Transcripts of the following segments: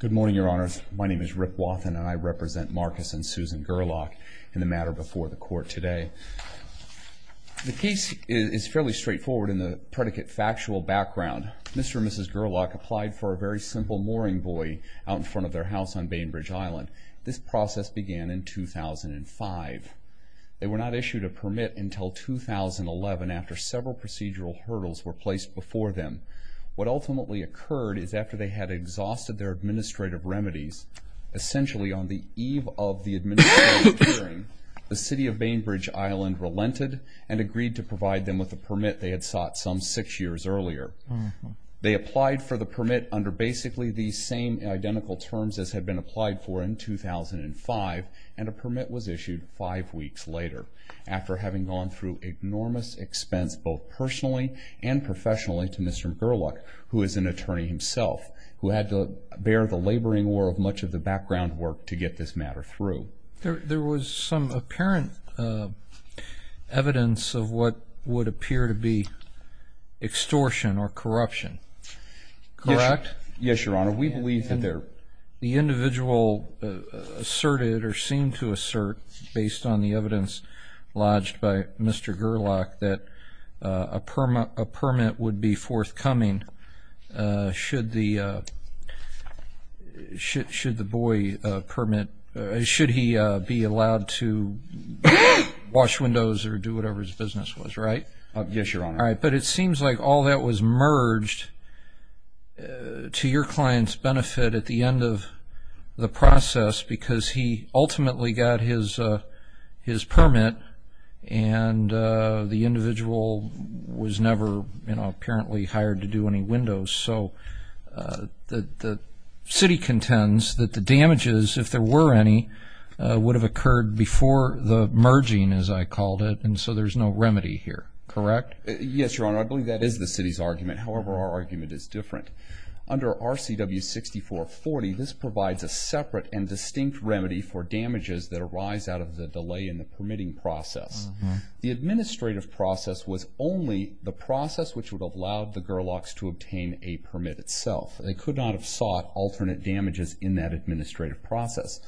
Good morning, Your Honors. My name is Rip Wathen and I represent Marcus and Susan Gerlach in the matter before the court today. The case is fairly straightforward in the predicate factual background. Mr. and Mrs. Gerlach applied for a very simple mooring buoy out in front of their house on Bainbridge Island. This process began in 2005. They were not issued a permit until 2011 after several procedural hurdles were placed before them. What ultimately occurred is after they had exhausted their administrative remedies, essentially on the eve of the administrative hearing, the City of Bainbridge Island relented and agreed to provide them with a permit they had sought some six years earlier. They applied for the permit under basically the same identical terms as had been applied for in 2005, and a permit was issued five weeks later. After having gone through enormous expense both personally and professionally to Mr. Gerlach, who is an attorney himself, who had to bear the laboring war of much of the background work to get this matter through. There was some apparent evidence of what would appear to be extortion or corruption, correct? Yes, Your Honor. We believe that there... The individual asserted or seemed to assert, based on the evidence lodged by Mr. Gerlach, that a permit would be forthcoming should the buoy permit... Should he be allowed to wash windows or do whatever his business was, right? Yes, Your Honor. All right, but it seems like all that was merged to your client's benefit at the end of the process because he ultimately got his permit and the individual was never apparently hired to do any windows. So the city contends that the damages, if there were any, would have occurred before the merging, as I called it, and so there's no remedy here, correct? Yes, Your Honor. I believe that is the city's argument. However, our argument is different. Under RCW 6440, this provides a separate and distinct remedy for damages that arise out of the delay in the permitting process. The administrative process was only the process which would have allowed the Gerlachs to obtain a permit itself. They could not have sought alternate damages in that administrative process,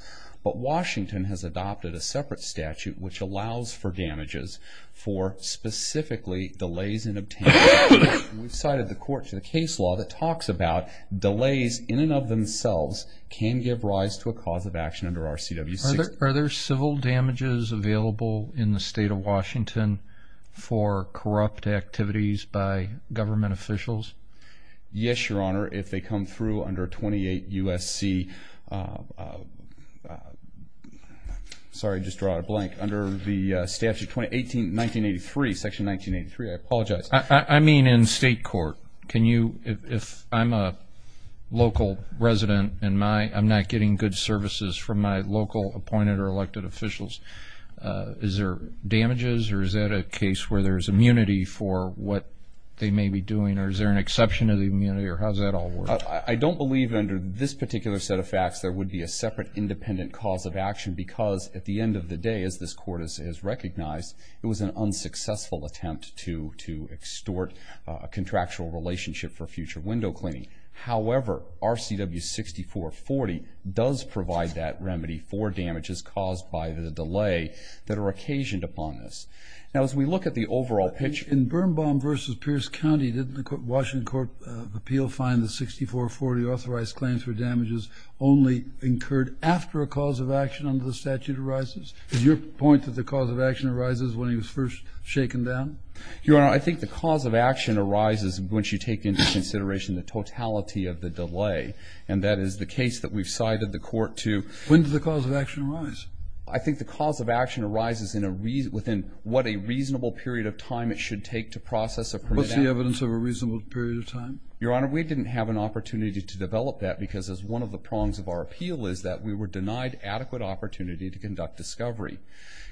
but Washington has adopted a separate statute which allows for damages for specifically delays in obtaining a permit. We've cited the court's case law that talks about delays in and of themselves can give rise to a cause of action under RCW 6440. Are there civil damages available in the state of Washington for corrupt activities by government officials? Yes, Your Honor, if they come through under 28 U.S.C. Sorry, I just drew out a blank. Under the Statute 1983, Section 1983, I apologize. I mean in state court. If I'm a local resident and I'm not getting good services from my local appointed or elected officials, is there damages or is that a case where there's immunity for what they may be doing or is there an exception of the immunity or how does that all work? I don't believe under this particular set of facts there would be a separate independent cause of action because at the end of the day, as this court has recognized, it was an unsuccessful attempt to extort a contractual relationship for future window cleaning. However, RCW 6440 does provide that remedy for damages caused by the delay that are occasioned upon this. Now, as we look at the overall picture. In Birnbaum v. Pierce County, didn't the Washington Court of Appeal find the 6440 authorized claims for damages only incurred after a cause of action under the statute arises? Is your point that the cause of action arises when he was first shaken down? Your Honor, I think the cause of action arises once you take into consideration the totality of the delay and that is the case that we've cited the court to. When does the cause of action arise? I think the cause of action arises within what a reasonable period of time it should take to process a permit. What's the evidence of a reasonable period of time? Your Honor, we didn't have an opportunity to develop that because as one of the prongs of our appeal is that we were denied adequate opportunity to conduct discovery.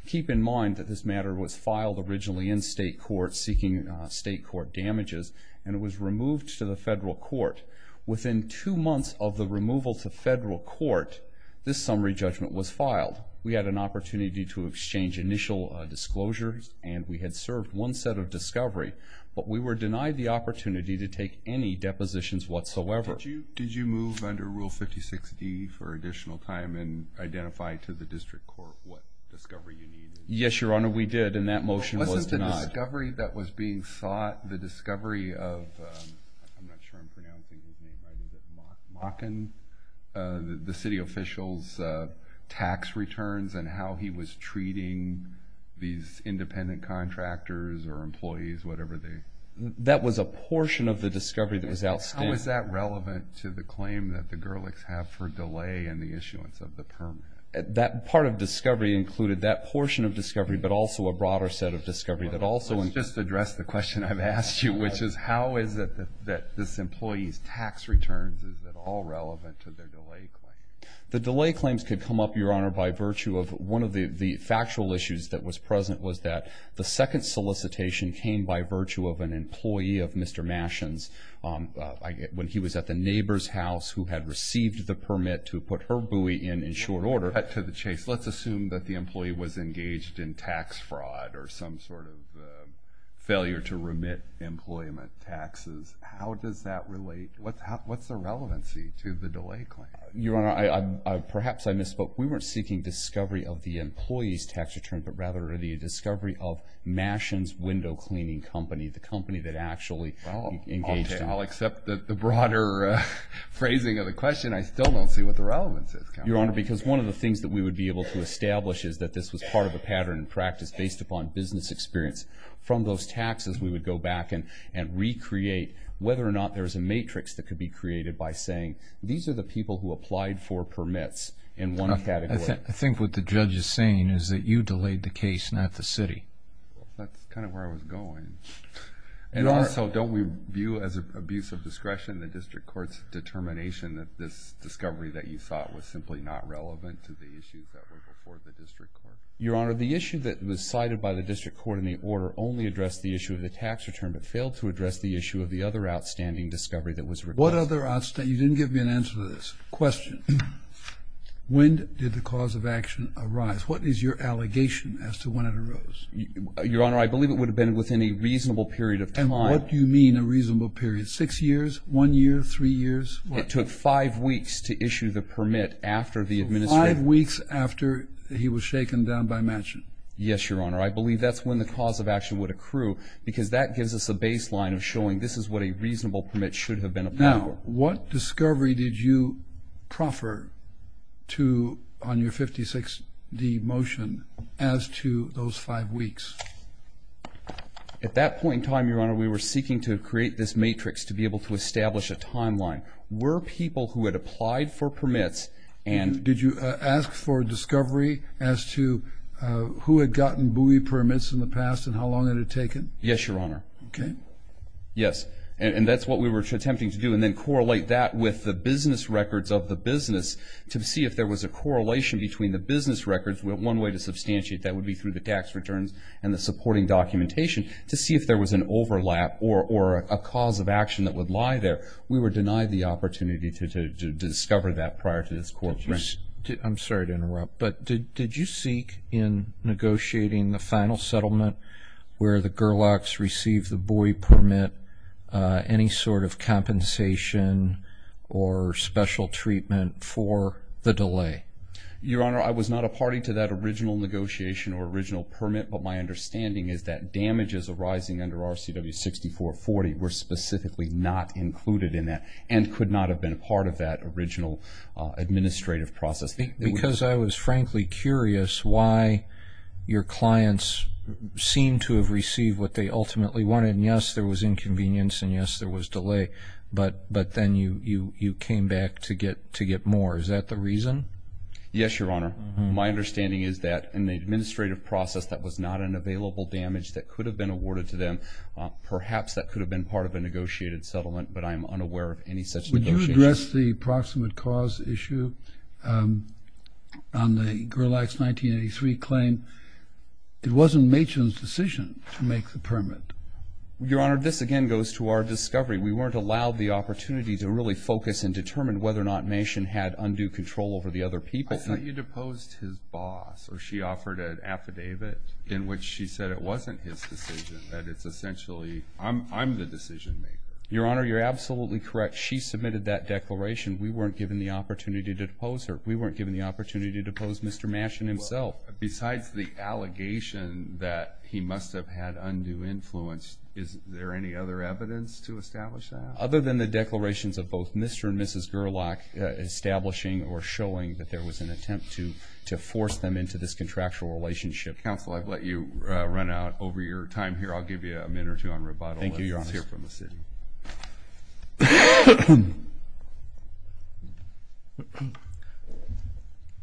Keep in mind that this matter was filed originally in state court seeking state court damages and it was removed to the federal court. Within two months of the removal to federal court, this summary judgment was filed. We had an opportunity to exchange initial disclosures and we had served one set of discovery, but we were denied the opportunity to take any depositions whatsoever. Did you move under Rule 56D for additional time and identify to the district court what discovery you needed? Yes, Your Honor, we did and that motion was denied. Wasn't the discovery that was being sought the discovery of, I'm not sure I'm pronouncing his name right, was it Mocken? The city official's tax returns and how he was treating these independent contractors or employees, whatever they... That was a portion of the discovery that was outstanding. How is that relevant to the claim that the Gerlichs have for delay in the issuance of the permit? That part of discovery included that portion of discovery, but also a broader set of discovery that also... Let's just address the question I've asked you, which is how is it that this employee's tax returns, is it all relevant to their delay claim? The delay claims could come up, Your Honor, by virtue of one of the factual issues that was present was that the second solicitation came by virtue of an employee of Mr. Mashon's. When he was at the neighbor's house who had received the permit to put her buoy in in short order... To cut to the chase, let's assume that the employee was engaged in tax fraud or some sort of failure to remit employment taxes. How does that relate? What's the relevancy to the delay claim? Your Honor, perhaps I misspoke. We weren't seeking discovery of the employee's tax returns, but rather the discovery of Mashon's Window Cleaning Company, the company that actually engaged in... I'll accept the broader phrasing of the question. I still don't see what the relevance is. Your Honor, because one of the things that we would be able to establish is that this was part of a pattern in practice based upon business experience. From those taxes, we would go back and recreate whether or not there's a matrix that could be created by saying, these are the people who applied for permits in one category. I think what the judge is saying is that you delayed the case, not the city. That's kind of where I was going. And also, don't we view as abuse of discretion the district court's determination that this discovery that you sought was simply not relevant to the issues that were before the district court? Your Honor, the issue that was cited by the district court in the order only addressed the issue of the tax return, but failed to address the issue of the other outstanding discovery that was required. What other outstanding? You didn't give me an answer to this question. When did the cause of action arise? What is your allegation as to when it arose? Your Honor, I believe it would have been within a reasonable period of time. And what do you mean a reasonable period? Six years? One year? Three years? It took five weeks to issue the permit after the administration. Five weeks after he was shaken down by Manchin? Yes, Your Honor. I believe that's when the cause of action would accrue, because that gives us a baseline of showing this is what a reasonable permit should have been applied for. What discovery did you proffer on your 56D motion as to those five weeks? At that point in time, Your Honor, we were seeking to create this matrix to be able to establish a timeline. Were people who had applied for permits and Did you ask for discovery as to who had gotten buoy permits in the past and how long it had taken? Yes, Your Honor. Okay. Yes, and that's what we were attempting to do and then correlate that with the business records of the business to see if there was a correlation between the business records. One way to substantiate that would be through the tax returns and the supporting documentation to see if there was an overlap or a cause of action that would lie there. We were denied the opportunity to discover that prior to this court. I'm sorry to interrupt, but did you seek in negotiating the final settlement where the Gerlachs received the buoy permit any sort of compensation or special treatment for the delay? Your Honor, I was not a party to that original negotiation or original permit, but my understanding is that damages arising under RCW 6440 were specifically not included in that and could not have been a part of that original administrative process. Because I was frankly curious why your clients seemed to have received what they ultimately wanted, and, yes, there was inconvenience and, yes, there was delay, but then you came back to get more. Is that the reason? Yes, Your Honor. My understanding is that in the administrative process, that was not an available damage that could have been awarded to them. Perhaps that could have been part of a negotiated settlement, but I'm unaware of any such negotiations. Would you address the proximate cause issue on the Gerlachs 1983 claim? It wasn't Machen's decision to make the permit. Your Honor, this again goes to our discovery. We weren't allowed the opportunity to really focus and determine whether or not Machen had undue control over the other people. I thought you deposed his boss, or she offered an affidavit in which she said it wasn't his decision, that it's essentially I'm the decision maker. Your Honor, you're absolutely correct. She submitted that declaration. We weren't given the opportunity to depose her. We weren't given the opportunity to depose Mr. Machen himself. Besides the allegation that he must have had undue influence, is there any other evidence to establish that? Other than the declarations of both Mr. and Mrs. Gerlach establishing or showing that there was an attempt to force them into this contractual relationship. Counsel, I've let you run out over your time here. I'll give you a minute or two on rebuttal. Thank you, Your Honor. Let's hear from the city.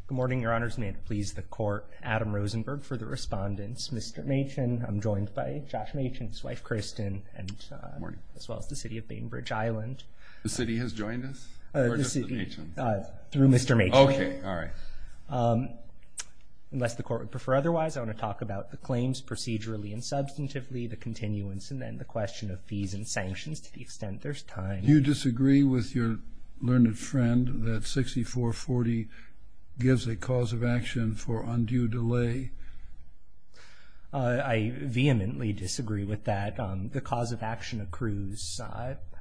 Good morning, Your Honors. May it please the Court, Adam Rosenberg for the respondents, Mr. Machen. I'm joined by Josh Machen, his wife, Kristen, as well as the city of Bainbridge Island. The city has joined us? Through Mr. Machen. Okay, all right. Unless the Court would prefer otherwise, I want to talk about the claims procedurally and substantively, the continuance, and then the question of fees and sanctions to the extent there's time. Do you disagree with your learned friend that 6440 gives a cause of action for undue delay? I vehemently disagree with that. The cause of action accrues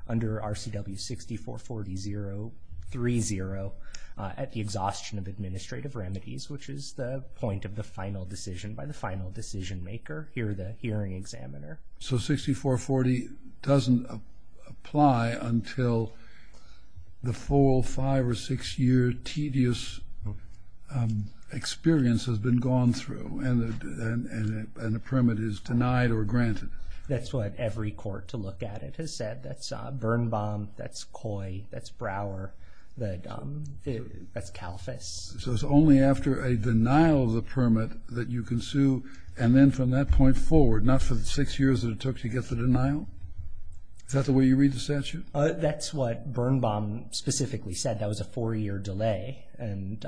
under RCW 6440.030 at the exhaustion of administrative remedies, which is the point of the final decision by the final decision maker, here the hearing examiner. So 6440 doesn't apply until the full five or six-year tedious experience has been gone through and the permit is denied or granted? That's what every court to look at it has said. That's Birnbaum, that's Coy, that's Brower, that's Calfus. So it's only after a denial of the permit that you can sue, and then from that point forward, not for the six years that it took to get the denial? Is that the way you read the statute? That's what Birnbaum specifically said. That was a four-year delay, and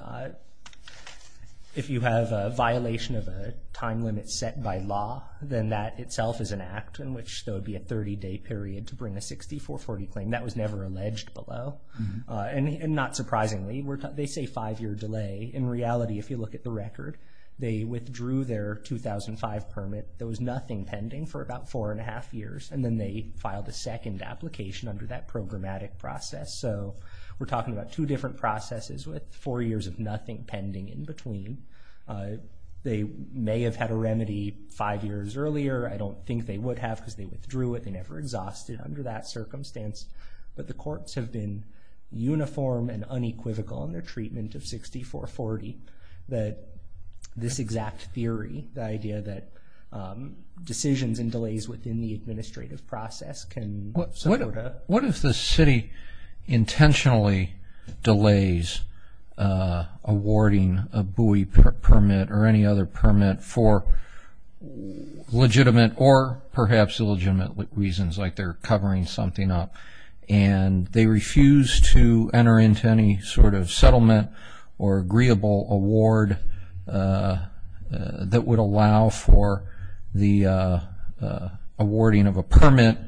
if you have a violation of a time limit set by law, then that itself is an act in which there would be a 30-day period to bring a 6440 claim. That was never alleged below. And not surprisingly, they say five-year delay. In reality, if you look at the record, they withdrew their 2005 permit. There was nothing pending for about four and a half years, and then they filed a second application under that programmatic process. So we're talking about two different processes with four years of nothing pending in between. They may have had a remedy five years earlier. I don't think they would have because they withdrew it. They never exhausted under that circumstance. But the courts have been uniform and unequivocal in their treatment of 6440 that this exact theory, the idea that decisions and delays within the administrative process can support a- What if the city intentionally delays awarding a BUI permit or any other permit for legitimate or perhaps illegitimate reasons, like they're covering something up, and they refuse to enter into any sort of settlement or agreeable award that would allow for the awarding of a permit,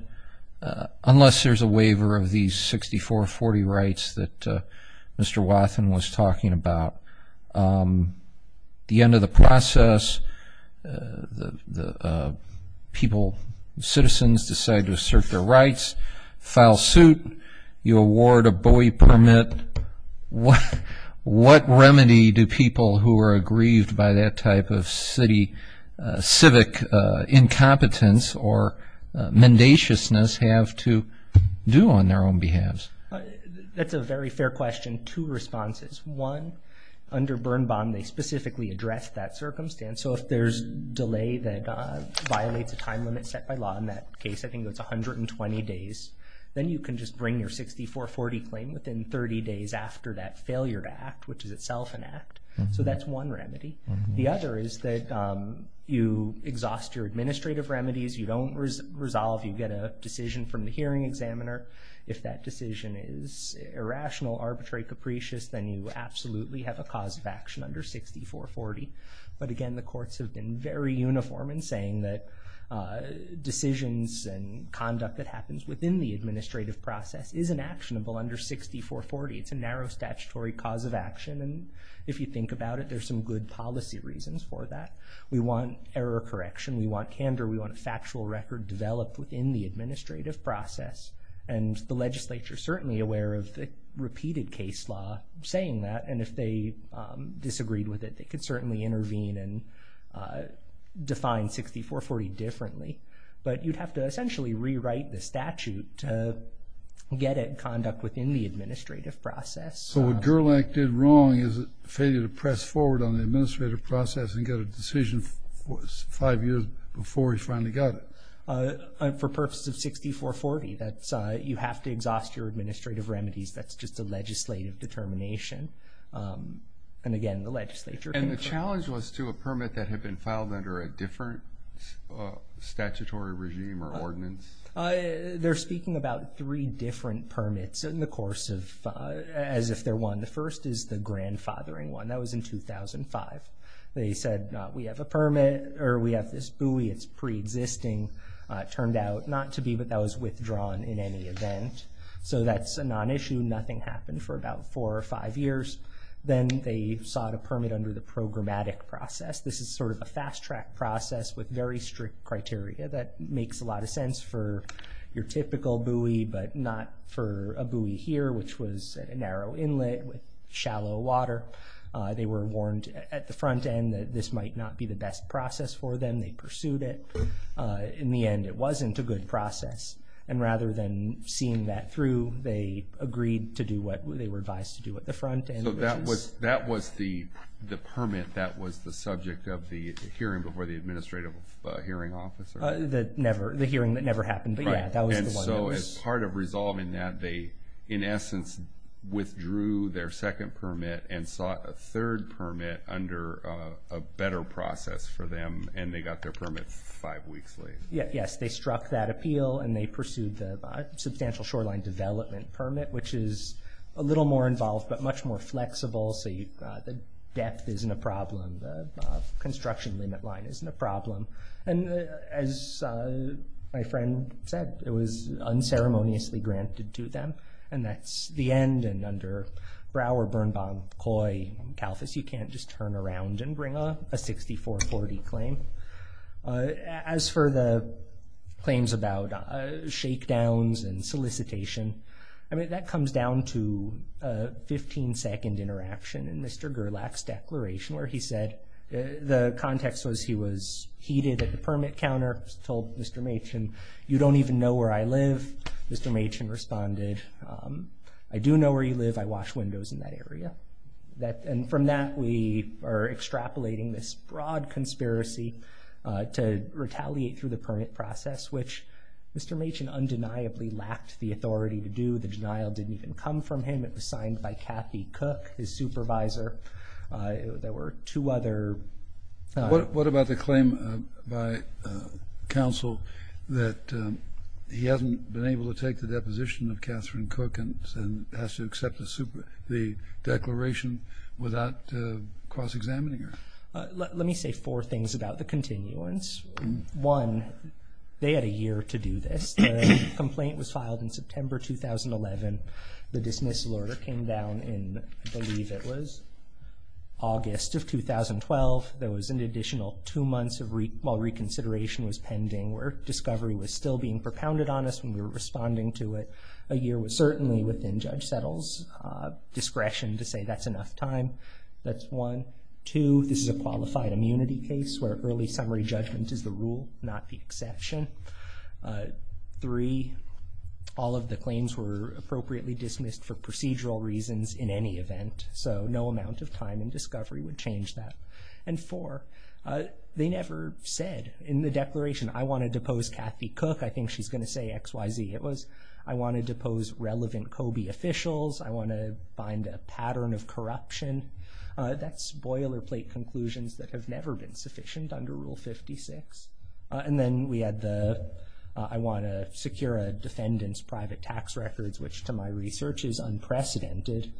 unless there's a waiver of these 6440 rights that Mr. Wathen was talking about. The end of the process, people, citizens decide to assert their rights, file suit, you award a BUI permit. What remedy do people who are aggrieved by that type of civic incompetence or mendaciousness have to do on their own behalves? That's a very fair question. Again, two responses. One, under Bernbaum, they specifically address that circumstance. So if there's delay that violates a time limit set by law, in that case I think it was 120 days, then you can just bring your 6440 claim within 30 days after that failure to act, which is itself an act. So that's one remedy. The other is that you exhaust your administrative remedies. You don't resolve. You get a decision from the hearing examiner. If that decision is irrational, arbitrary, capricious, then you absolutely have a cause of action under 6440. But, again, the courts have been very uniform in saying that decisions and conduct that happens within the administrative process isn't actionable under 6440. It's a narrow statutory cause of action, and if you think about it, there's some good policy reasons for that. We want error correction. We want candor. We want a factual record developed within the administrative process, and the legislature is certainly aware of the repeated case law saying that, and if they disagreed with it, they could certainly intervene and define 6440 differently. But you'd have to essentially rewrite the statute to get it in conduct within the administrative process. So what Gerlach did wrong is a failure to press forward on the administrative process and get a decision five years before he finally got it. For purposes of 6440, you have to exhaust your administrative remedies. That's just a legislative determination. And, again, the legislature can approve it. And the challenge was to a permit that had been filed under a different statutory regime or ordinance. They're speaking about three different permits as if they're one. The first is the grandfathering one. That was in 2005. They said, we have a permit, or we have this buoy, it's preexisting. It turned out not to be, but that was withdrawn in any event. So that's a non-issue. Nothing happened for about four or five years. Then they sought a permit under the programmatic process. This is sort of a fast-track process with very strict criteria. That makes a lot of sense for your typical buoy, but not for a buoy here, which was at a narrow inlet with shallow water. They were warned at the front end that this might not be the best process for them. They pursued it. In the end, it wasn't a good process. And rather than seeing that through, they agreed to do what they were advised to do at the front end. So that was the permit that was the subject of the hearing before the Administrative Hearing Office? The hearing that never happened, but, yeah, that was the one that was. And so as part of resolving that, they, in essence, withdrew their second permit and sought a third permit under a better process for them, and they got their permit five weeks late. Yes, they struck that appeal, and they pursued the Substantial Shoreline Development Permit, which is a little more involved but much more flexible. So the depth isn't a problem. The construction limit line isn't a problem. And as my friend said, it was unceremoniously granted to them, and that's the end. And under Brouwer, Birnbaum, Coy, and Kalfus, you can't just turn around and bring a 6440 claim. As for the claims about shakedowns and solicitation, I mean, that comes down to a 15-second interaction in Mr. Gerlach's declaration where he said the context was he was heated at the permit counter, told Mr. Machen, you don't even know where I live. Mr. Machen responded, I do know where you live. I wash windows in that area. And from that, we are extrapolating this broad conspiracy to retaliate through the permit process, which Mr. Machen undeniably lacked the authority to do. The denial didn't even come from him. It was signed by Kathy Cook, his supervisor. There were two other... He hasn't been able to take the deposition of Kathryn Cook and has to accept the declaration without cross-examining her. Let me say four things about the continuance. One, they had a year to do this. The complaint was filed in September 2011. The dismissal order came down in, I believe it was August of 2012. There was an additional two months while reconsideration was pending where discovery was still being propounded on us when we were responding to it. A year was certainly within Judge Settle's discretion to say that's enough time. That's one. Two, this is a qualified immunity case where early summary judgment is the rule, not the exception. Three, all of the claims were appropriately dismissed for procedural reasons in any event, so no amount of time in discovery would change that. And four, they never said in the declaration, I want to depose Kathy Cook. I think she's going to say X, Y, Z. It was, I want to depose relevant COBE officials. I want to find a pattern of corruption. That's boilerplate conclusions that have never been sufficient under Rule 56. And then we had the, I want to secure a defendant's private tax records, which to my research is unprecedented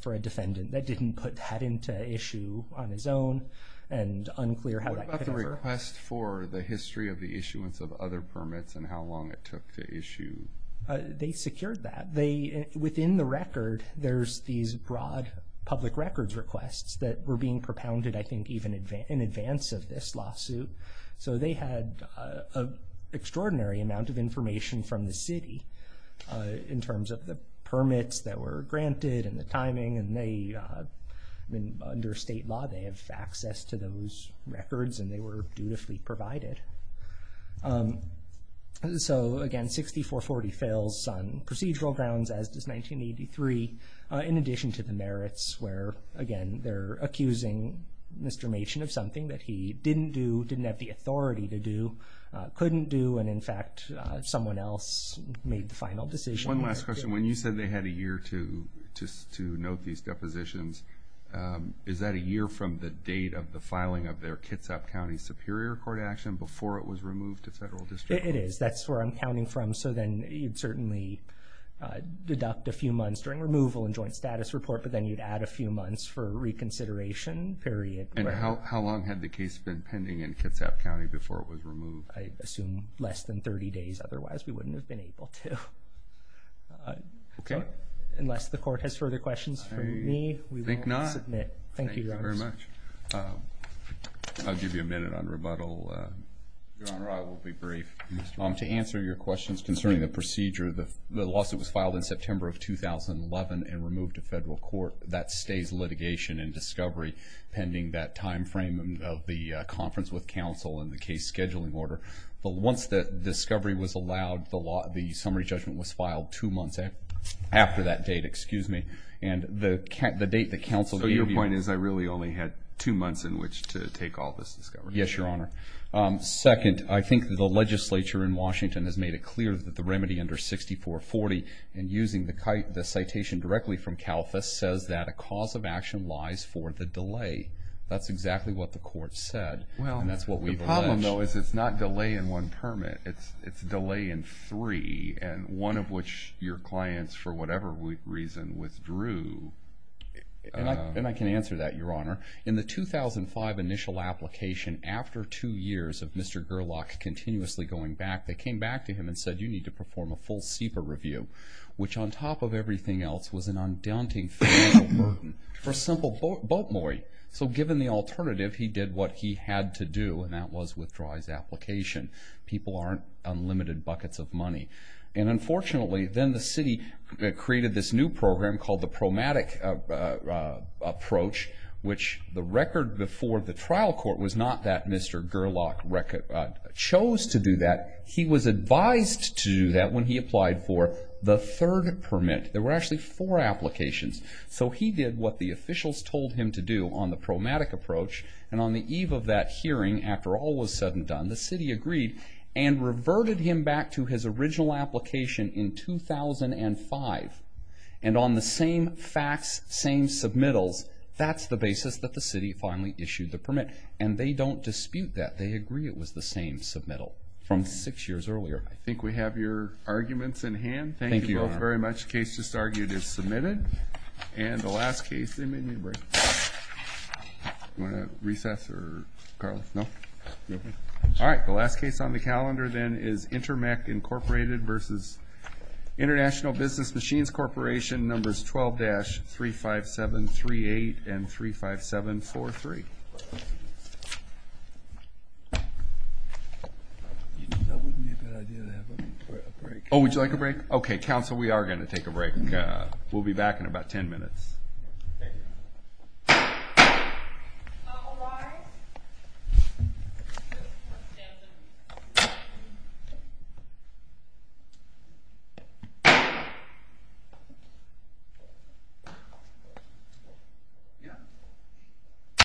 for a defendant that didn't put that into issue on his own and unclear how that could ever. What about the request for the history of the issuance of other permits and how long it took to issue? They secured that. Within the record, there's these broad public records requests that were being propounded, I think, even in advance of this lawsuit. So they had an extraordinary amount of information from the city in terms of the permits that were granted and the timing. And they, under state law, they have access to those records and they were dutifully provided. So again, 6440 fails on procedural grounds, as does 1983, in addition to the merits where, again, they're accusing Mr. Machen of something that he didn't do, didn't have the authority to do, couldn't do, and in fact someone else made the final decision. One last question. When you said they had a year to note these depositions, is that a year from the date of the filing of their Kitsap County Superior Court action before it was removed to federal district? It is. That's where I'm counting from. So then you'd certainly deduct a few months during removal and joint status report, but then you'd add a few months for reconsideration period. I assume less than 30 days. Otherwise, we wouldn't have been able to. Okay. Unless the court has further questions for me, we will submit. I think not. Thank you, Your Honor. Thank you very much. I'll give you a minute on rebuttal. Your Honor, I will be brief. To answer your questions concerning the procedure, the lawsuit was filed in September of 2011 and removed to federal court. That stays litigation and discovery pending that time frame of the conference with counsel and the case scheduling order. But once the discovery was allowed, the summary judgment was filed two months after that date. And the date that counsel gave you. So your point is I really only had two months in which to take all this discovery. Yes, Your Honor. Second, I think the legislature in Washington has made it clear that the remedy under 6440 and using the citation directly from CALFAS says that a cause of action lies for the delay. That's exactly what the court said. And that's what we've alleged. The problem, though, is it's not delay in one permit. It's delay in three, and one of which your clients, for whatever reason, withdrew. And I can answer that, Your Honor. In the 2005 initial application, after two years of Mr. Gerlach continuously going back, they came back to him and said you need to perform a full CEPA review, which on top of everything else was an undaunting financial burden for a simple boat moorie. So given the alternative, he did what he had to do, and that was withdraw his application. People aren't unlimited buckets of money. And unfortunately, then the city created this new program called the Promatic Approach, which the record before the trial court was not that Mr. Gerlach chose to do that. He was advised to do that when he applied for the third permit. There were actually four applications. So he did what the officials told him to do on the Promatic Approach, and on the eve of that hearing, after all was said and done, the city agreed and reverted him back to his original application in 2005. And on the same facts, same submittals, that's the basis that the city finally issued the permit. And they don't dispute that. They agree it was the same submittal from six years earlier. I think we have your arguments in hand. Thank you both very much. The first case just argued is submitted. And the last case, they made me a break. Do you want to recess or, Carlos, no? All right. The last case on the calendar then is Intermec Incorporated versus International Business Machines Corporation, numbers 12-35738 and 35743. Oh, would you like a break? Okay, counsel, we are going to take a break. We'll be back in about ten minutes.